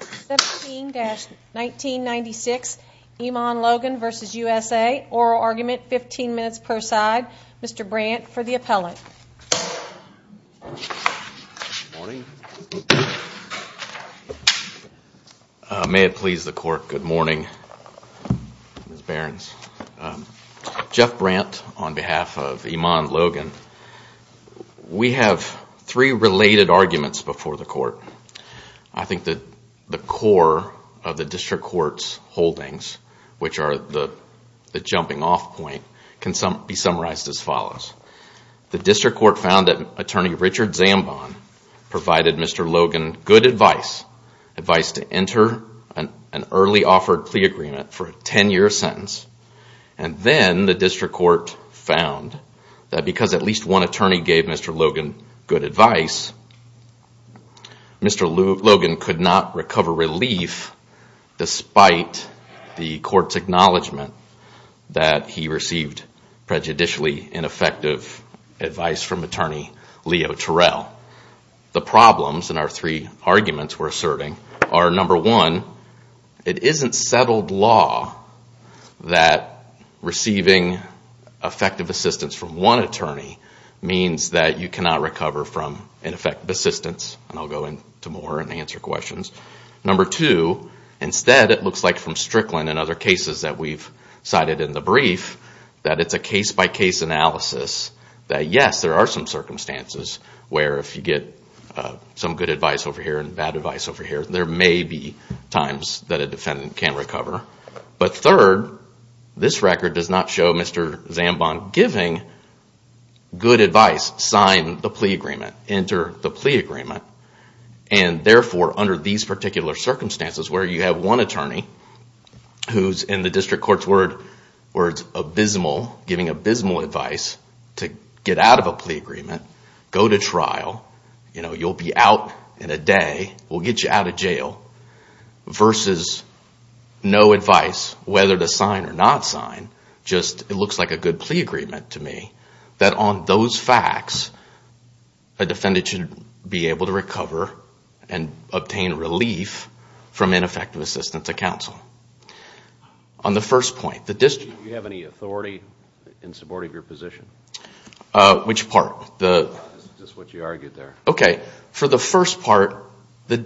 17-1996 Emond Logan v. USA. Oral argument, 15 minutes per side. Mr. Brandt for the appellate. May it please the court, good morning, Ms. Behrens. Jeff Brandt on behalf of Emond Logan. We have three related arguments before the court. I think that the core of the district court's holdings, which are the jumping off point, can be summarized as follows. The district court found that attorney Richard Zambon provided Mr. Logan good advice, advice to enter an early offered plea agreement for a 10-year sentence. And then the district court found that because at least one attorney gave Mr. Logan good advice, Mr. Logan could not recover relief despite the court's acknowledgment that he received prejudicially ineffective advice from attorney Leo Terrell. The problems in our three arguments we're asserting are number one, it isn't settled law that receiving effective assistance from one attorney means that you cannot recover from ineffective assistance. And I'll go into more and answer questions. Number two, instead it looks like from Strickland and other cases that we've cited in the brief, that it's a case-by-case analysis that yes, there are some circumstances where if you get some good advice over here and bad advice over here, there may be times that a defendant can recover. But third, this record does not show Mr. Zambon giving good advice, sign the plea agreement, enter the plea agreement. And therefore, under these particular circumstances where you have one attorney who's in the district court's words, abysmal, giving abysmal advice to get out of a plea agreement, go to trial, you'll be out in a day, we'll get you out of jail, versus no advice whether to sign or not sign. It looks like a good plea agreement to me, that on those facts, a defendant should be able to recover and obtain relief from ineffective assistance to counsel. On the first point, the district... Do you have any authority in support of your position? Which part? Just what you argued there. Okay, for the first part, the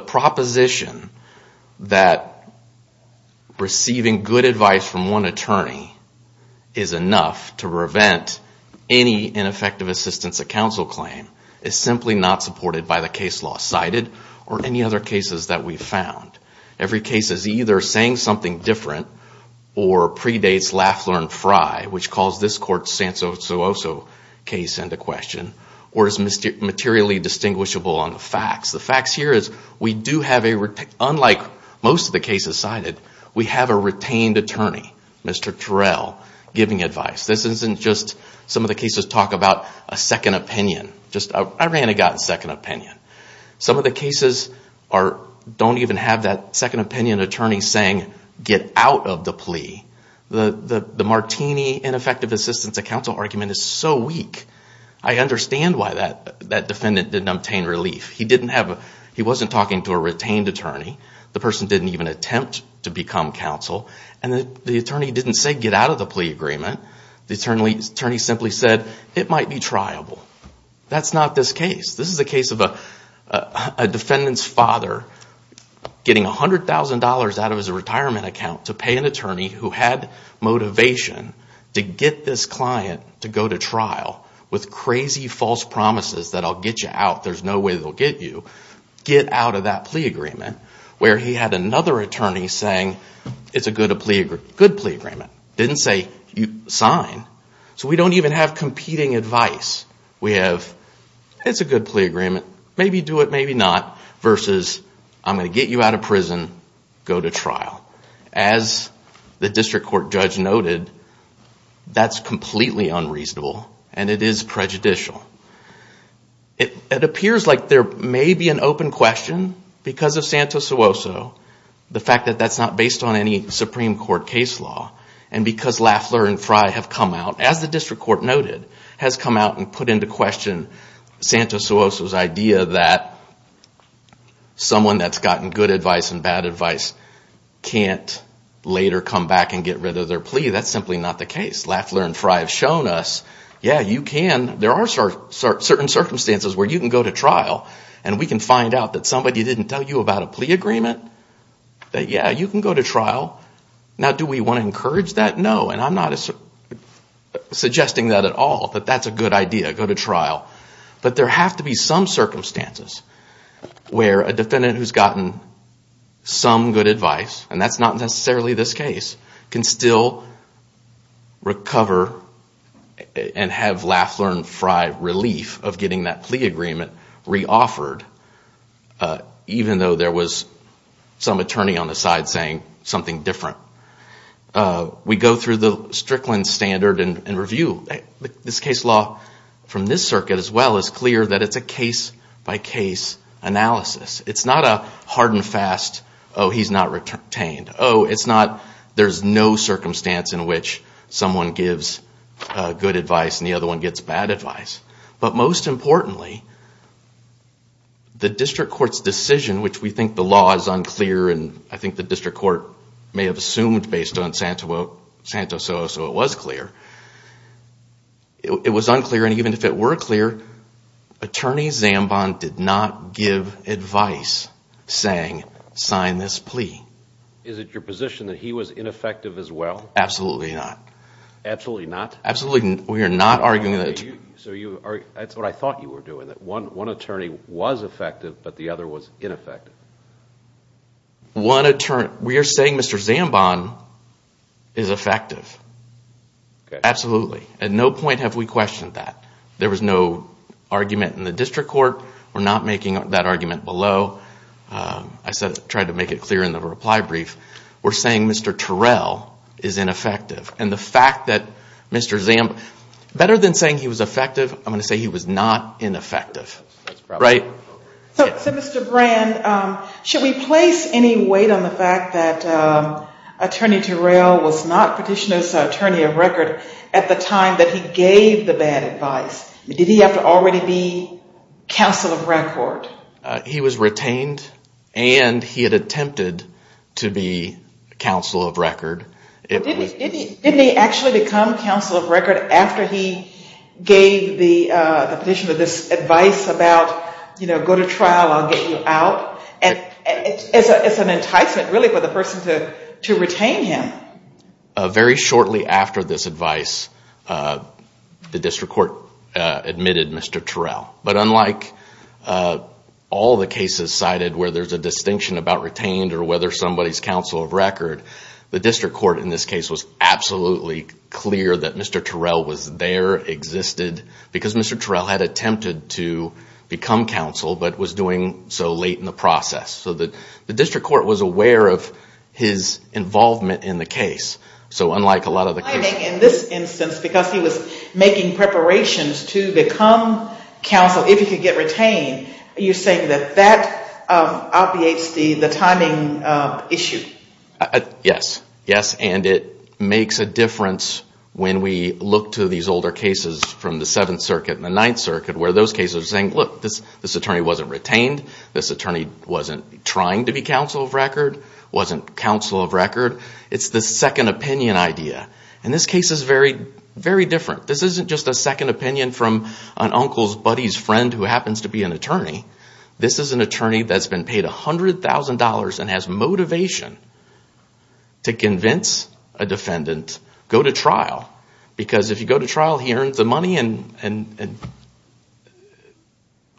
proposition that receiving good advice from one attorney is enough to prevent any ineffective assistance to counsel claim is simply not supported by the case law cited or any other cases that we've found. Every case is either saying something different or predates Lafleur and Frye, which calls this court's Sanzoso case into question, or is materially distinguishable on the facts. The facts here is we do have a... Unlike most of the cases cited, we have a retained attorney, Mr. Terrell, giving advice. This isn't just some of the cases talk about a second opinion. Just I ran and got a second opinion. Some of the cases don't even have that second opinion attorney saying, get out of the plea. The Martini, ineffective assistance to counsel argument is so weak. I understand why that defendant didn't obtain relief. He wasn't talking to a retained attorney. The person didn't even attempt to become counsel. And the attorney didn't say, get out of the plea agreement. The attorney simply said, it might be triable. That's not this case. This is a case of a defendant's father getting $100,000 out of his retirement account to pay an attorney who had motivation to get this client to go to trial with crazy false promises that I'll get you out. There's no way they'll get you. Get out of that plea agreement, where he had another attorney saying, it's a good plea agreement. Didn't say, sign. So we don't even have competing advice. We have, it's a good plea agreement. Maybe do it, maybe not. Versus, I'm going to get you out of prison, go to trial. As the district court judge noted, that's completely unreasonable. And it is prejudicial. It appears like there may be an open question because of Santos Suoso, the fact that that's not based on any Supreme Court case law. And because Lafleur and Frey have come out, as the district court noted, has come out and put into question Santos Suoso's idea that someone that's gotten good advice and bad advice can't later come back and get rid of their plea. That's simply not the case. Lafleur and Frey have shown us, yeah, you can, there are certain circumstances where you can go to trial. And we can find out that somebody didn't tell you about a plea agreement, that yeah, you can go to trial. Now, do we want to encourage that? No, and I'm not suggesting that at all, that that's a good idea, go to trial. But there have to be some circumstances where a defendant who's gotten some good advice, and that's not necessarily this case, can still recover and have Lafleur and Frey relief of getting that plea agreement reoffered. Even though there was some attorney on the side saying something different. We go through the Strickland standard and review. This case law from this circuit as well is clear that it's a case by case analysis. It's not a hard and fast, oh, he's not retained. Oh, it's not, there's no circumstance in which someone gives good advice and the other one gets bad advice. But most importantly, the district court's decision, which we think the law is unclear, and I think the district court may have assumed based on Santos, so it was clear, it was unclear. And even if it were clear, Attorney Zambon did not give advice saying, sign this plea. Is it your position that he was ineffective as well? Absolutely not. Absolutely not? Absolutely, we are not arguing that. So that's what I thought you were doing, that one attorney was effective, but the other was ineffective. One attorney, we are saying Mr. Zambon is effective, absolutely. At no point have we questioned that. There was no argument in the district court. We're not making that argument below. I tried to make it clear in the reply brief. We're saying Mr. Terrell is ineffective. And the fact that Mr. Zambon, better than saying he was effective, I'm going to say he was not ineffective, right? So Mr. Brand, should we place any weight on the fact that Attorney Terrell was not petitioned as an attorney of record at the time that he gave the bad advice? Did he have to already be counsel of record? He was retained and he had attempted to be counsel of record. Didn't he actually become counsel of record after he gave the petition of this advice about, you know, go to trial, I'll get you out? And it's an enticement really for the person to retain him. Very shortly after this advice, the district court admitted Mr. Terrell. But unlike all the cases cited where there's a distinction about retained or whether somebody's counsel of record, the district court in this case was absolutely clear that Mr. Terrell was there, existed, because Mr. Terrell had attempted to become counsel but was doing so late in the process. So the district court was aware of his involvement in the case. So unlike a lot of the cases... In this instance, because he was making preparations to become counsel, if he could get retained, you're saying that that obviates the timing issue? Yes. Yes. And it makes a difference when we look to these older cases from the Seventh Circuit and the Ninth Circuit, where those cases are saying, look, this attorney wasn't retained. This attorney wasn't trying to be counsel of record, wasn't counsel of record. It's the second opinion idea. And this case is very, very different. This isn't just a second opinion from an uncle's buddy's friend who happens to be an attorney. This is an attorney that's been paid $100,000 and has motivation to convince a defendant, go to trial. Because if you go to trial, he earns the money and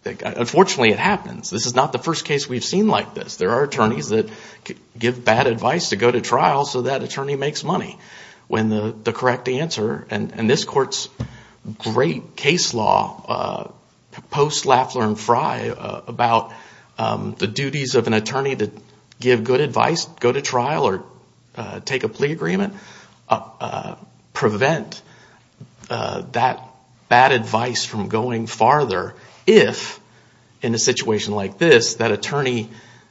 unfortunately it happens. This is not the first case we've seen like this. There are attorneys that give bad advice to go to trial so that attorney makes money when the correct answer... And this court's great case law, post-Laffler and Frye, about the duties of an attorney to give good advice, go to trial or take a plea agreement, prevent that bad advice from going farther if, in a situation like this, that attorney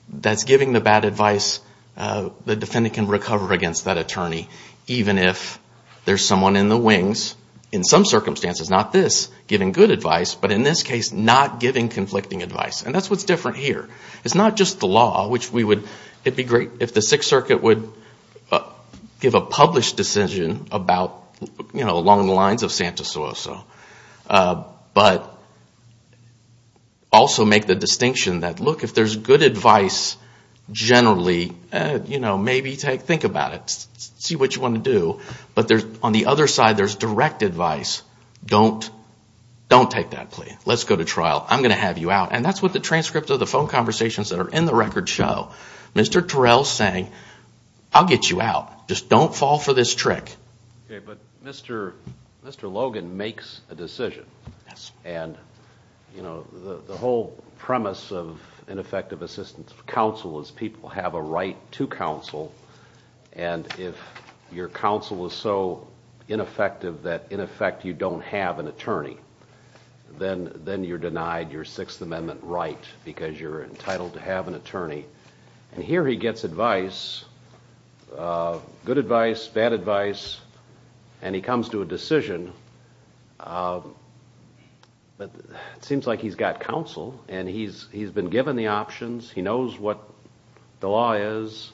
that's giving the bad advice, the defendant can recover against that attorney, even if there's someone in the wings, in some circumstances, not this, giving good advice, but in this case, not giving conflicting advice. And that's what's different here. It's not just the law, which we would... It'd be great if the Sixth Circuit would give a published decision about, you know, along the lines of Santos-Suazo. But also make the distinction that, look, if there's good advice generally, you know, maybe think about it. See what you want to do. But on the other side, there's direct advice. Don't take that plea. Let's go to trial. I'm going to have you out. And that's what the transcript of the phone conversations that are in the record show. Mr. Terrell's saying, I'll get you out. Just don't fall for this trick. But Mr. Logan makes a decision. And, you know, the whole premise of ineffective assistance of counsel is people have a right to counsel. And if your counsel is so ineffective that, in effect, you don't have an attorney, then you're denied your Sixth Amendment right, because you're entitled to have an attorney. And here he gets advice, good advice, bad advice. And he comes to a decision. But it seems like he's got counsel. And he's been given the options. He knows what the law is.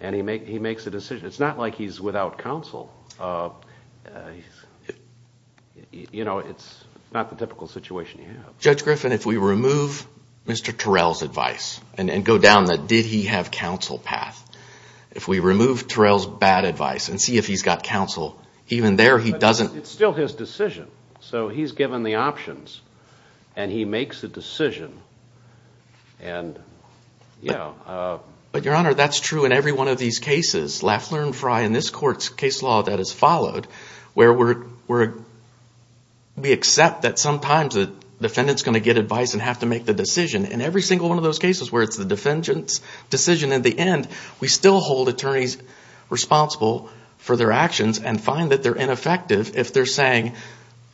And he makes a decision. It's not like he's without counsel. You know, it's not the typical situation you have. Judge Griffin, if we remove Mr. Terrell's advice and go down the did he have counsel path, if we remove Terrell's bad advice and see if he's got counsel, even there he doesn't. It's still his decision. So he's given the options. And he makes a decision. And, you know. But, Your Honor, that's true in every one of these cases. In this court's case law that has followed, where we accept that sometimes the defendant's going to get advice and have to make the decision. In every single one of those cases where it's the defendant's decision at the end, we still hold attorneys responsible for their actions and find that they're ineffective if they're saying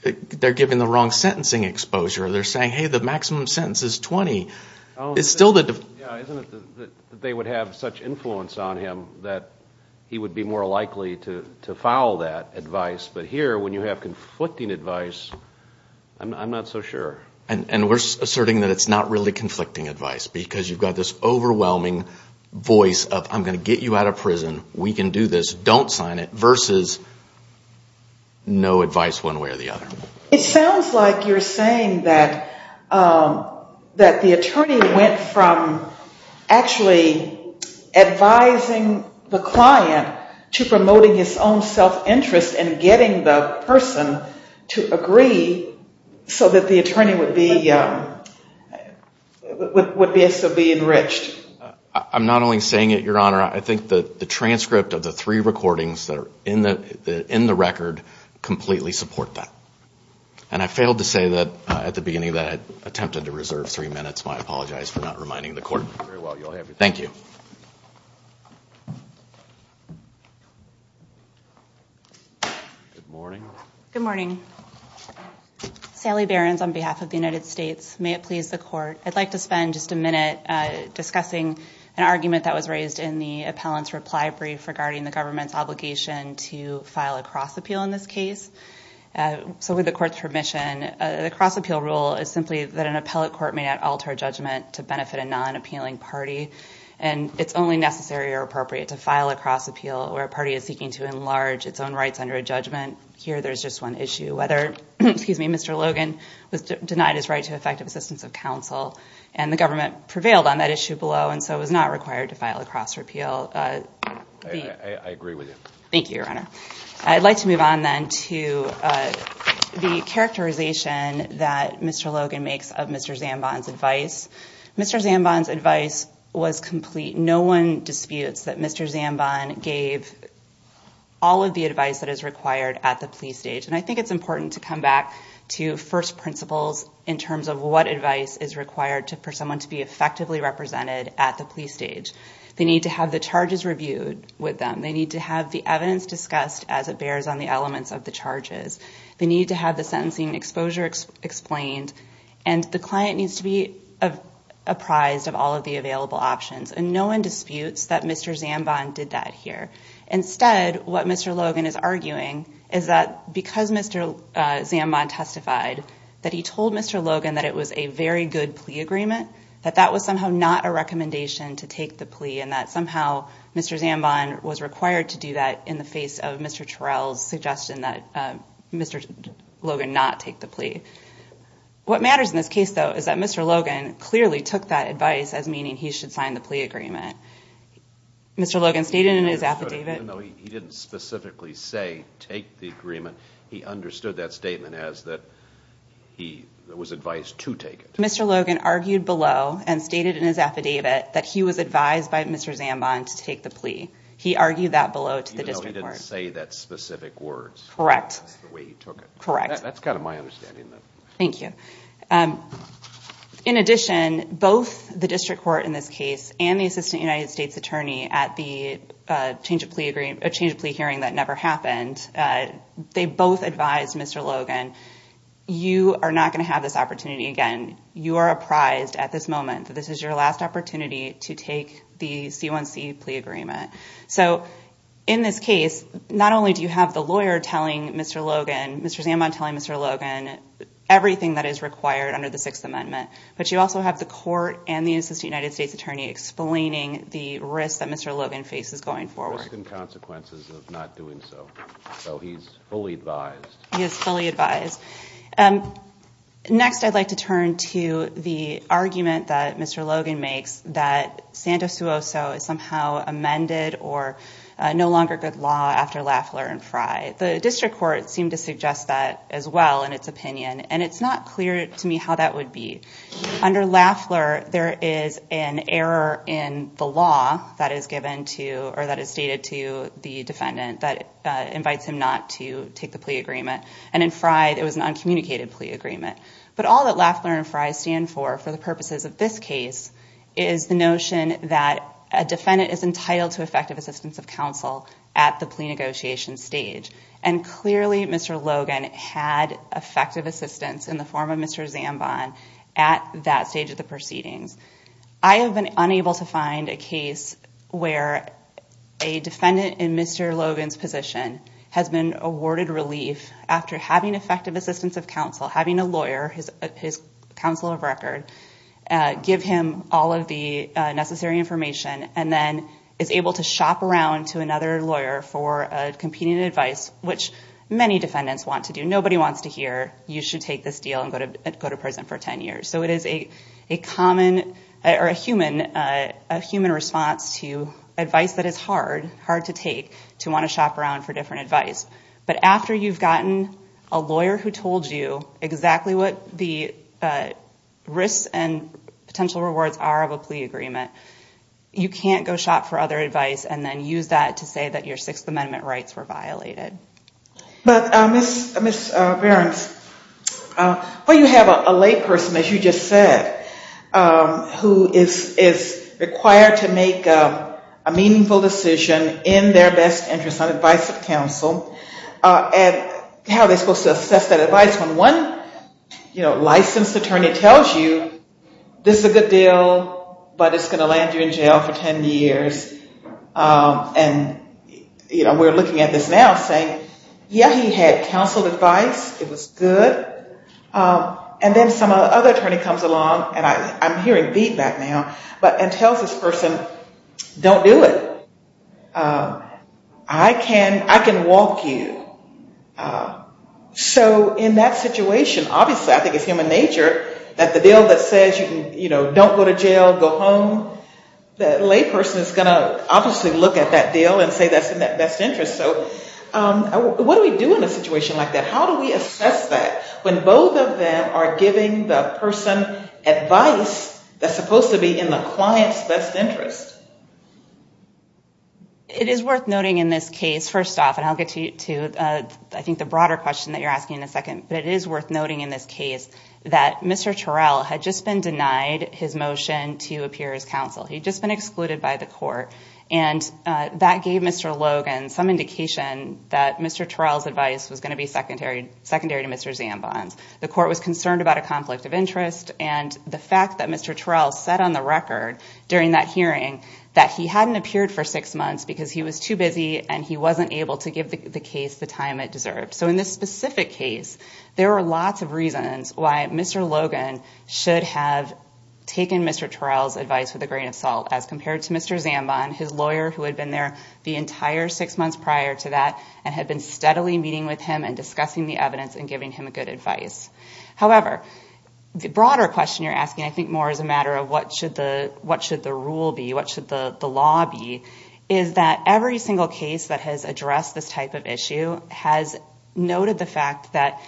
they're giving the wrong sentencing exposure. They're saying, hey, the maximum sentence is 20. It's still the. Yeah, isn't it that they would have such influence on him that he would be more likely to foul that advice. But here, when you have conflicting advice, I'm not so sure. And we're asserting that it's not really conflicting advice because you've got this overwhelming voice of I'm going to get you out of prison. We can do this. Don't sign it. Versus no advice one way or the other. It sounds like you're saying that the attorney went from actually advising the client to promoting his own self-interest and getting the person to agree so that the attorney would be enriched. I'm not only saying it, Your Honor. I think that the transcript of the three recordings that are in the record completely support that. And I failed to say that at the beginning that I attempted to reserve three minutes. I apologize for not reminding the court. Thank you. Good morning. Good morning. Sally Behrens on behalf of the United States. May it please the court. I'd like to spend just a minute discussing an argument that was raised in the appellant's reply brief regarding the government's obligation to file a cross-appeal in this case. So with the court's permission, the cross-appeal rule is simply that an appellate court may not alter judgment to benefit a non-appealing party. And it's only necessary or appropriate to file a cross-appeal where a party is seeking to enlarge its own rights under a judgment. Here, there's just one issue, whether Mr. Logan was denied his right to effective assistance of counsel. And the government prevailed on that issue below. And so it was not required to file a cross-repeal. I agree with you. Thank you, Your Honor. I'd like to move on then to the characterization that Mr. Logan makes of Mr. Zambon's advice. Mr. Zambon's advice was complete. No one disputes that Mr. Zambon gave all of the advice that is required at the plea stage. And I think it's important to come back to first principles in terms of what advice is required for someone to be effectively represented at the plea stage. They need to have the charges reviewed with them. They need to have the evidence discussed as it bears on the elements of the charges. They need to have the sentencing exposure explained. And the client needs to be apprised of all of the available options. And no one disputes that Mr. Zambon did that here. Instead, what Mr. Logan is arguing is that because Mr. Zambon testified that he told Mr. Logan that it was a very good plea agreement, that that was somehow not a recommendation to take the plea, and that somehow Mr. Zambon was required to do that in the face of Mr. Terrell's suggestion that Mr. Logan not take the plea. What matters in this case, though, is that Mr. Logan clearly took that advice as meaning he should sign the plea agreement. Mr. Logan stated in his affidavit... Even though he didn't specifically say take the agreement, he understood that statement as that he was advised to take it. Mr. Logan argued below and stated in his affidavit that he was advised by Mr. Zambon to take the plea. He argued that below to the district court. Even though he didn't say that specific words. Correct. That's the way he took it. Correct. That's kind of my understanding, though. Thank you. In addition, both the district court in this case and the assistant United States attorney at the change of plea hearing that never happened, they both advised Mr. Logan, you are not going to have this opportunity again. You are apprised at this moment that this is your last opportunity to take the C1C plea agreement. So in this case, not only do you have the lawyer telling Mr. Logan, Mr. Zambon telling Mr. Logan everything that is required under the Sixth Amendment, but you also have the court and the assistant United States attorney explaining the risk that Mr. Logan faces going forward. Risk and consequences of not doing so. So he's fully advised. He is fully advised. And next, I'd like to turn to the argument that Mr. Logan makes that Santos Suoso is somehow amended or no longer good law after Lafleur and Frye. The district court seemed to suggest that as well in its opinion. And it's not clear to me how that would be under Lafleur. There is an error in the law that is given to or that is stated to the defendant that invites him not to take the plea agreement. And in Frye, it was an uncommunicated plea agreement. But all that Lafleur and Frye stand for for the purposes of this case is the notion that a defendant is entitled to effective assistance of counsel at the plea negotiation stage. And clearly, Mr. Logan had effective assistance in the form of Mr. Zambon at that stage of the proceedings. I have been unable to find a case where a defendant in Mr. Logan's position has been awarded relief after having effective assistance of counsel, having a lawyer, his counsel of record, give him all of the necessary information, and then is able to shop around to another lawyer for competing advice, which many defendants want to do. Nobody wants to hear, you should take this deal and go to prison for 10 years. So it is a common or a human response to advice that is hard, hard to take to want to shop around for different advice. But after you've gotten a lawyer who told you exactly what the risks and potential rewards are of a plea agreement, you can't go shop for other advice and then use that to say that your Sixth Amendment rights were violated. But Ms. Behrens, well, you have a lay person, as you just said, who is required to make a meaningful decision in their best interest on advice of counsel. And how are they supposed to assess that advice when one licensed attorney tells you, this is a good deal, but it's going to land you in jail for 10 years. And we're looking at this now saying, yeah, he had counseled advice. It was good. And then some other attorney comes along, and I'm hearing feedback now, and tells this person, don't do it. I can walk you. So in that situation, obviously, I think it's human nature that the deal that says, you know, don't go to jail, go home, the lay person is going to obviously look at that deal and say that's in their best interest. So what do we do in a situation like that? How do we assess that when both of them are giving the person advice that's supposed to be in the client's best interest? It is worth noting in this case, first off, and I'll get to, I think, the broader question that you're asking in a second. But it is worth noting in this case that Mr. Turrell had just been denied his motion to appear as counsel. He'd just been excluded by the court. And that gave Mr. Logan some indication that Mr. Turrell's advice was going to be secondary to Mr. Zambon's. The court was concerned about a conflict of interest. And the fact that Mr. Turrell said on the record during that hearing that he hadn't appeared for six months because he was too busy and he wasn't able to give the case the time it deserved. So in this specific case, there were lots of reasons why Mr. Logan should have taken Mr. Turrell's advice with a grain of salt as compared to Mr. Zambon, his lawyer who had been there the entire six months prior to that and had been steadily meeting with him and discussing the evidence and giving him good advice. However, the broader question you're asking, I think more as a matter of what should the rule be, what should the law be, is that every single case that has addressed this type of issue has noted the fact that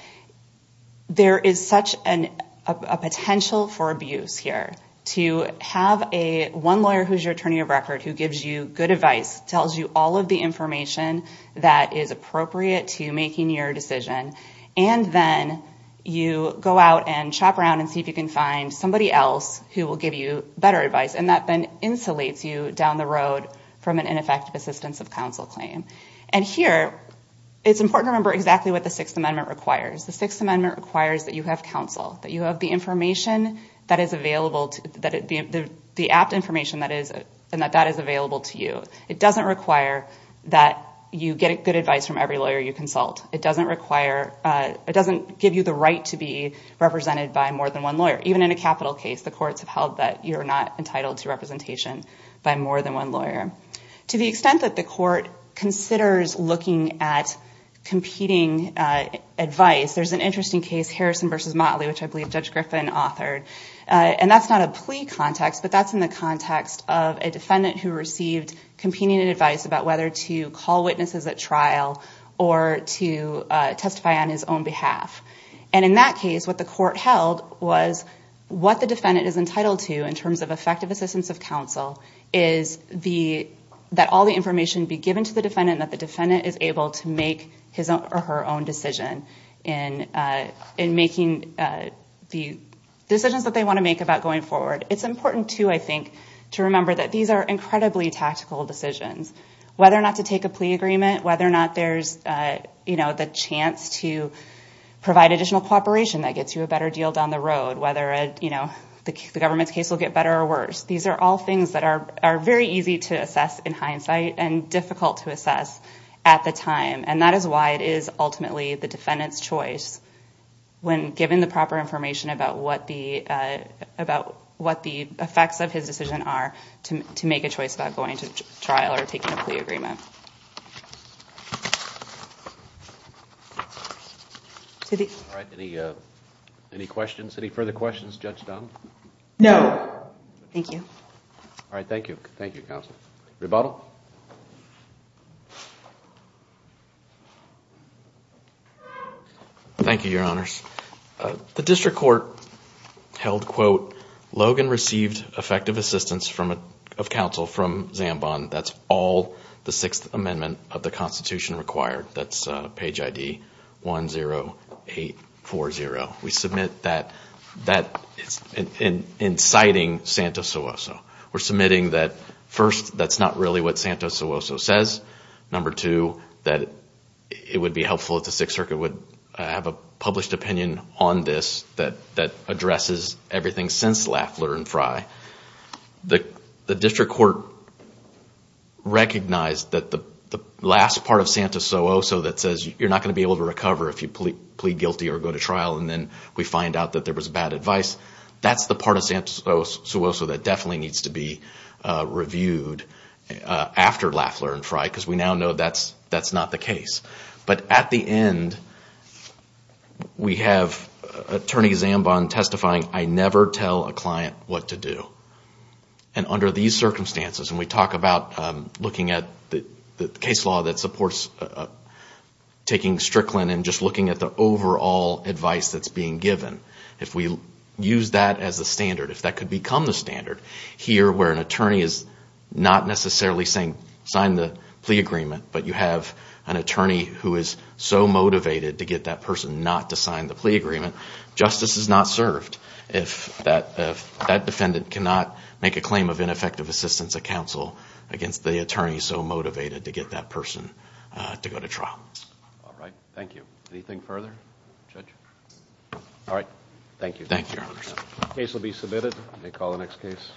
there is such a potential for abuse here. To have one lawyer who's your attorney of record, who gives you good advice, tells you all of the information that is appropriate to making your decision, and then you go out and chop around and see if you can find somebody else who will give you better advice. And that then insulates you down the road from an ineffective assistance of counsel claim. And here, it's important to remember exactly what the Sixth Amendment requires. The Sixth Amendment requires that you have counsel, that you have the information that is available, the apt information that is available to you. It doesn't require that you get good advice from every lawyer you consult. It doesn't give you the right to be represented by more than one lawyer. Even in a capital case, the courts have held that you're not entitled to representation by more than one lawyer. To the extent that the court considers looking at competing advice, there's an interesting case, Harrison v. Motley, which I believe Judge Griffin authored. And that's not a plea context, but that's in the context of a defendant who received competing advice about whether to call witnesses at trial or to testify on his own behalf. And in that case, what the court held was what the defendant is entitled to in terms of effective assistance of counsel that all the information be given to the defendant and that the defendant is able to make his or her own decision in making the decisions that they want to make about going forward. It's important too, I think, to remember that these are incredibly tactical decisions. Whether or not to take a plea agreement, whether or not there's the chance to provide additional cooperation that gets you a better deal down the road, whether the government's case will get better or worse. These are all things that are very easy to assess in hindsight and difficult to assess at the time. And that is why it is ultimately the defendant's choice when given the proper information about what the effects of his decision are to make a choice about going to trial or taking a plea agreement. All right, any questions? Any further questions, Judge Dunn? No, thank you. All right, thank you. Thank you, counsel. Rebuttal. Thank you, your honors. The district court held, quote, Logan received effective assistance of counsel from Zambon. That's all the Sixth Amendment of the Constitution required. That's page ID 10840. We submit that inciting Santos-Souza. Santos-Souza says. Number two, that it would be helpful if the Sixth Circuit would have a published opinion on this that addresses everything since Lafler and Frye. The district court recognized that the last part of Santos-Souza that says you're not going to be able to recover if you plead guilty or go to trial and then we find out that there was bad advice, that's the part of Santos-Souza that definitely needs to be reviewed. After Lafler and Frye, because we now know that's not the case. But at the end, we have attorney Zambon testifying, I never tell a client what to do. And under these circumstances, and we talk about looking at the case law that supports taking Strickland and just looking at the overall advice that's being given. If we use that as a standard, if that could become the standard here where an attorney is not necessarily saying sign the plea agreement, but you have an attorney who is so motivated to get that person not to sign the plea agreement, justice is not served. If that defendant cannot make a claim of ineffective assistance at counsel against the attorney so motivated to get that person to go to trial. All right. Thank you. Anything further, Judge? All right. Thank you. Thank you, Your Honor. Case will be submitted. May call the next case.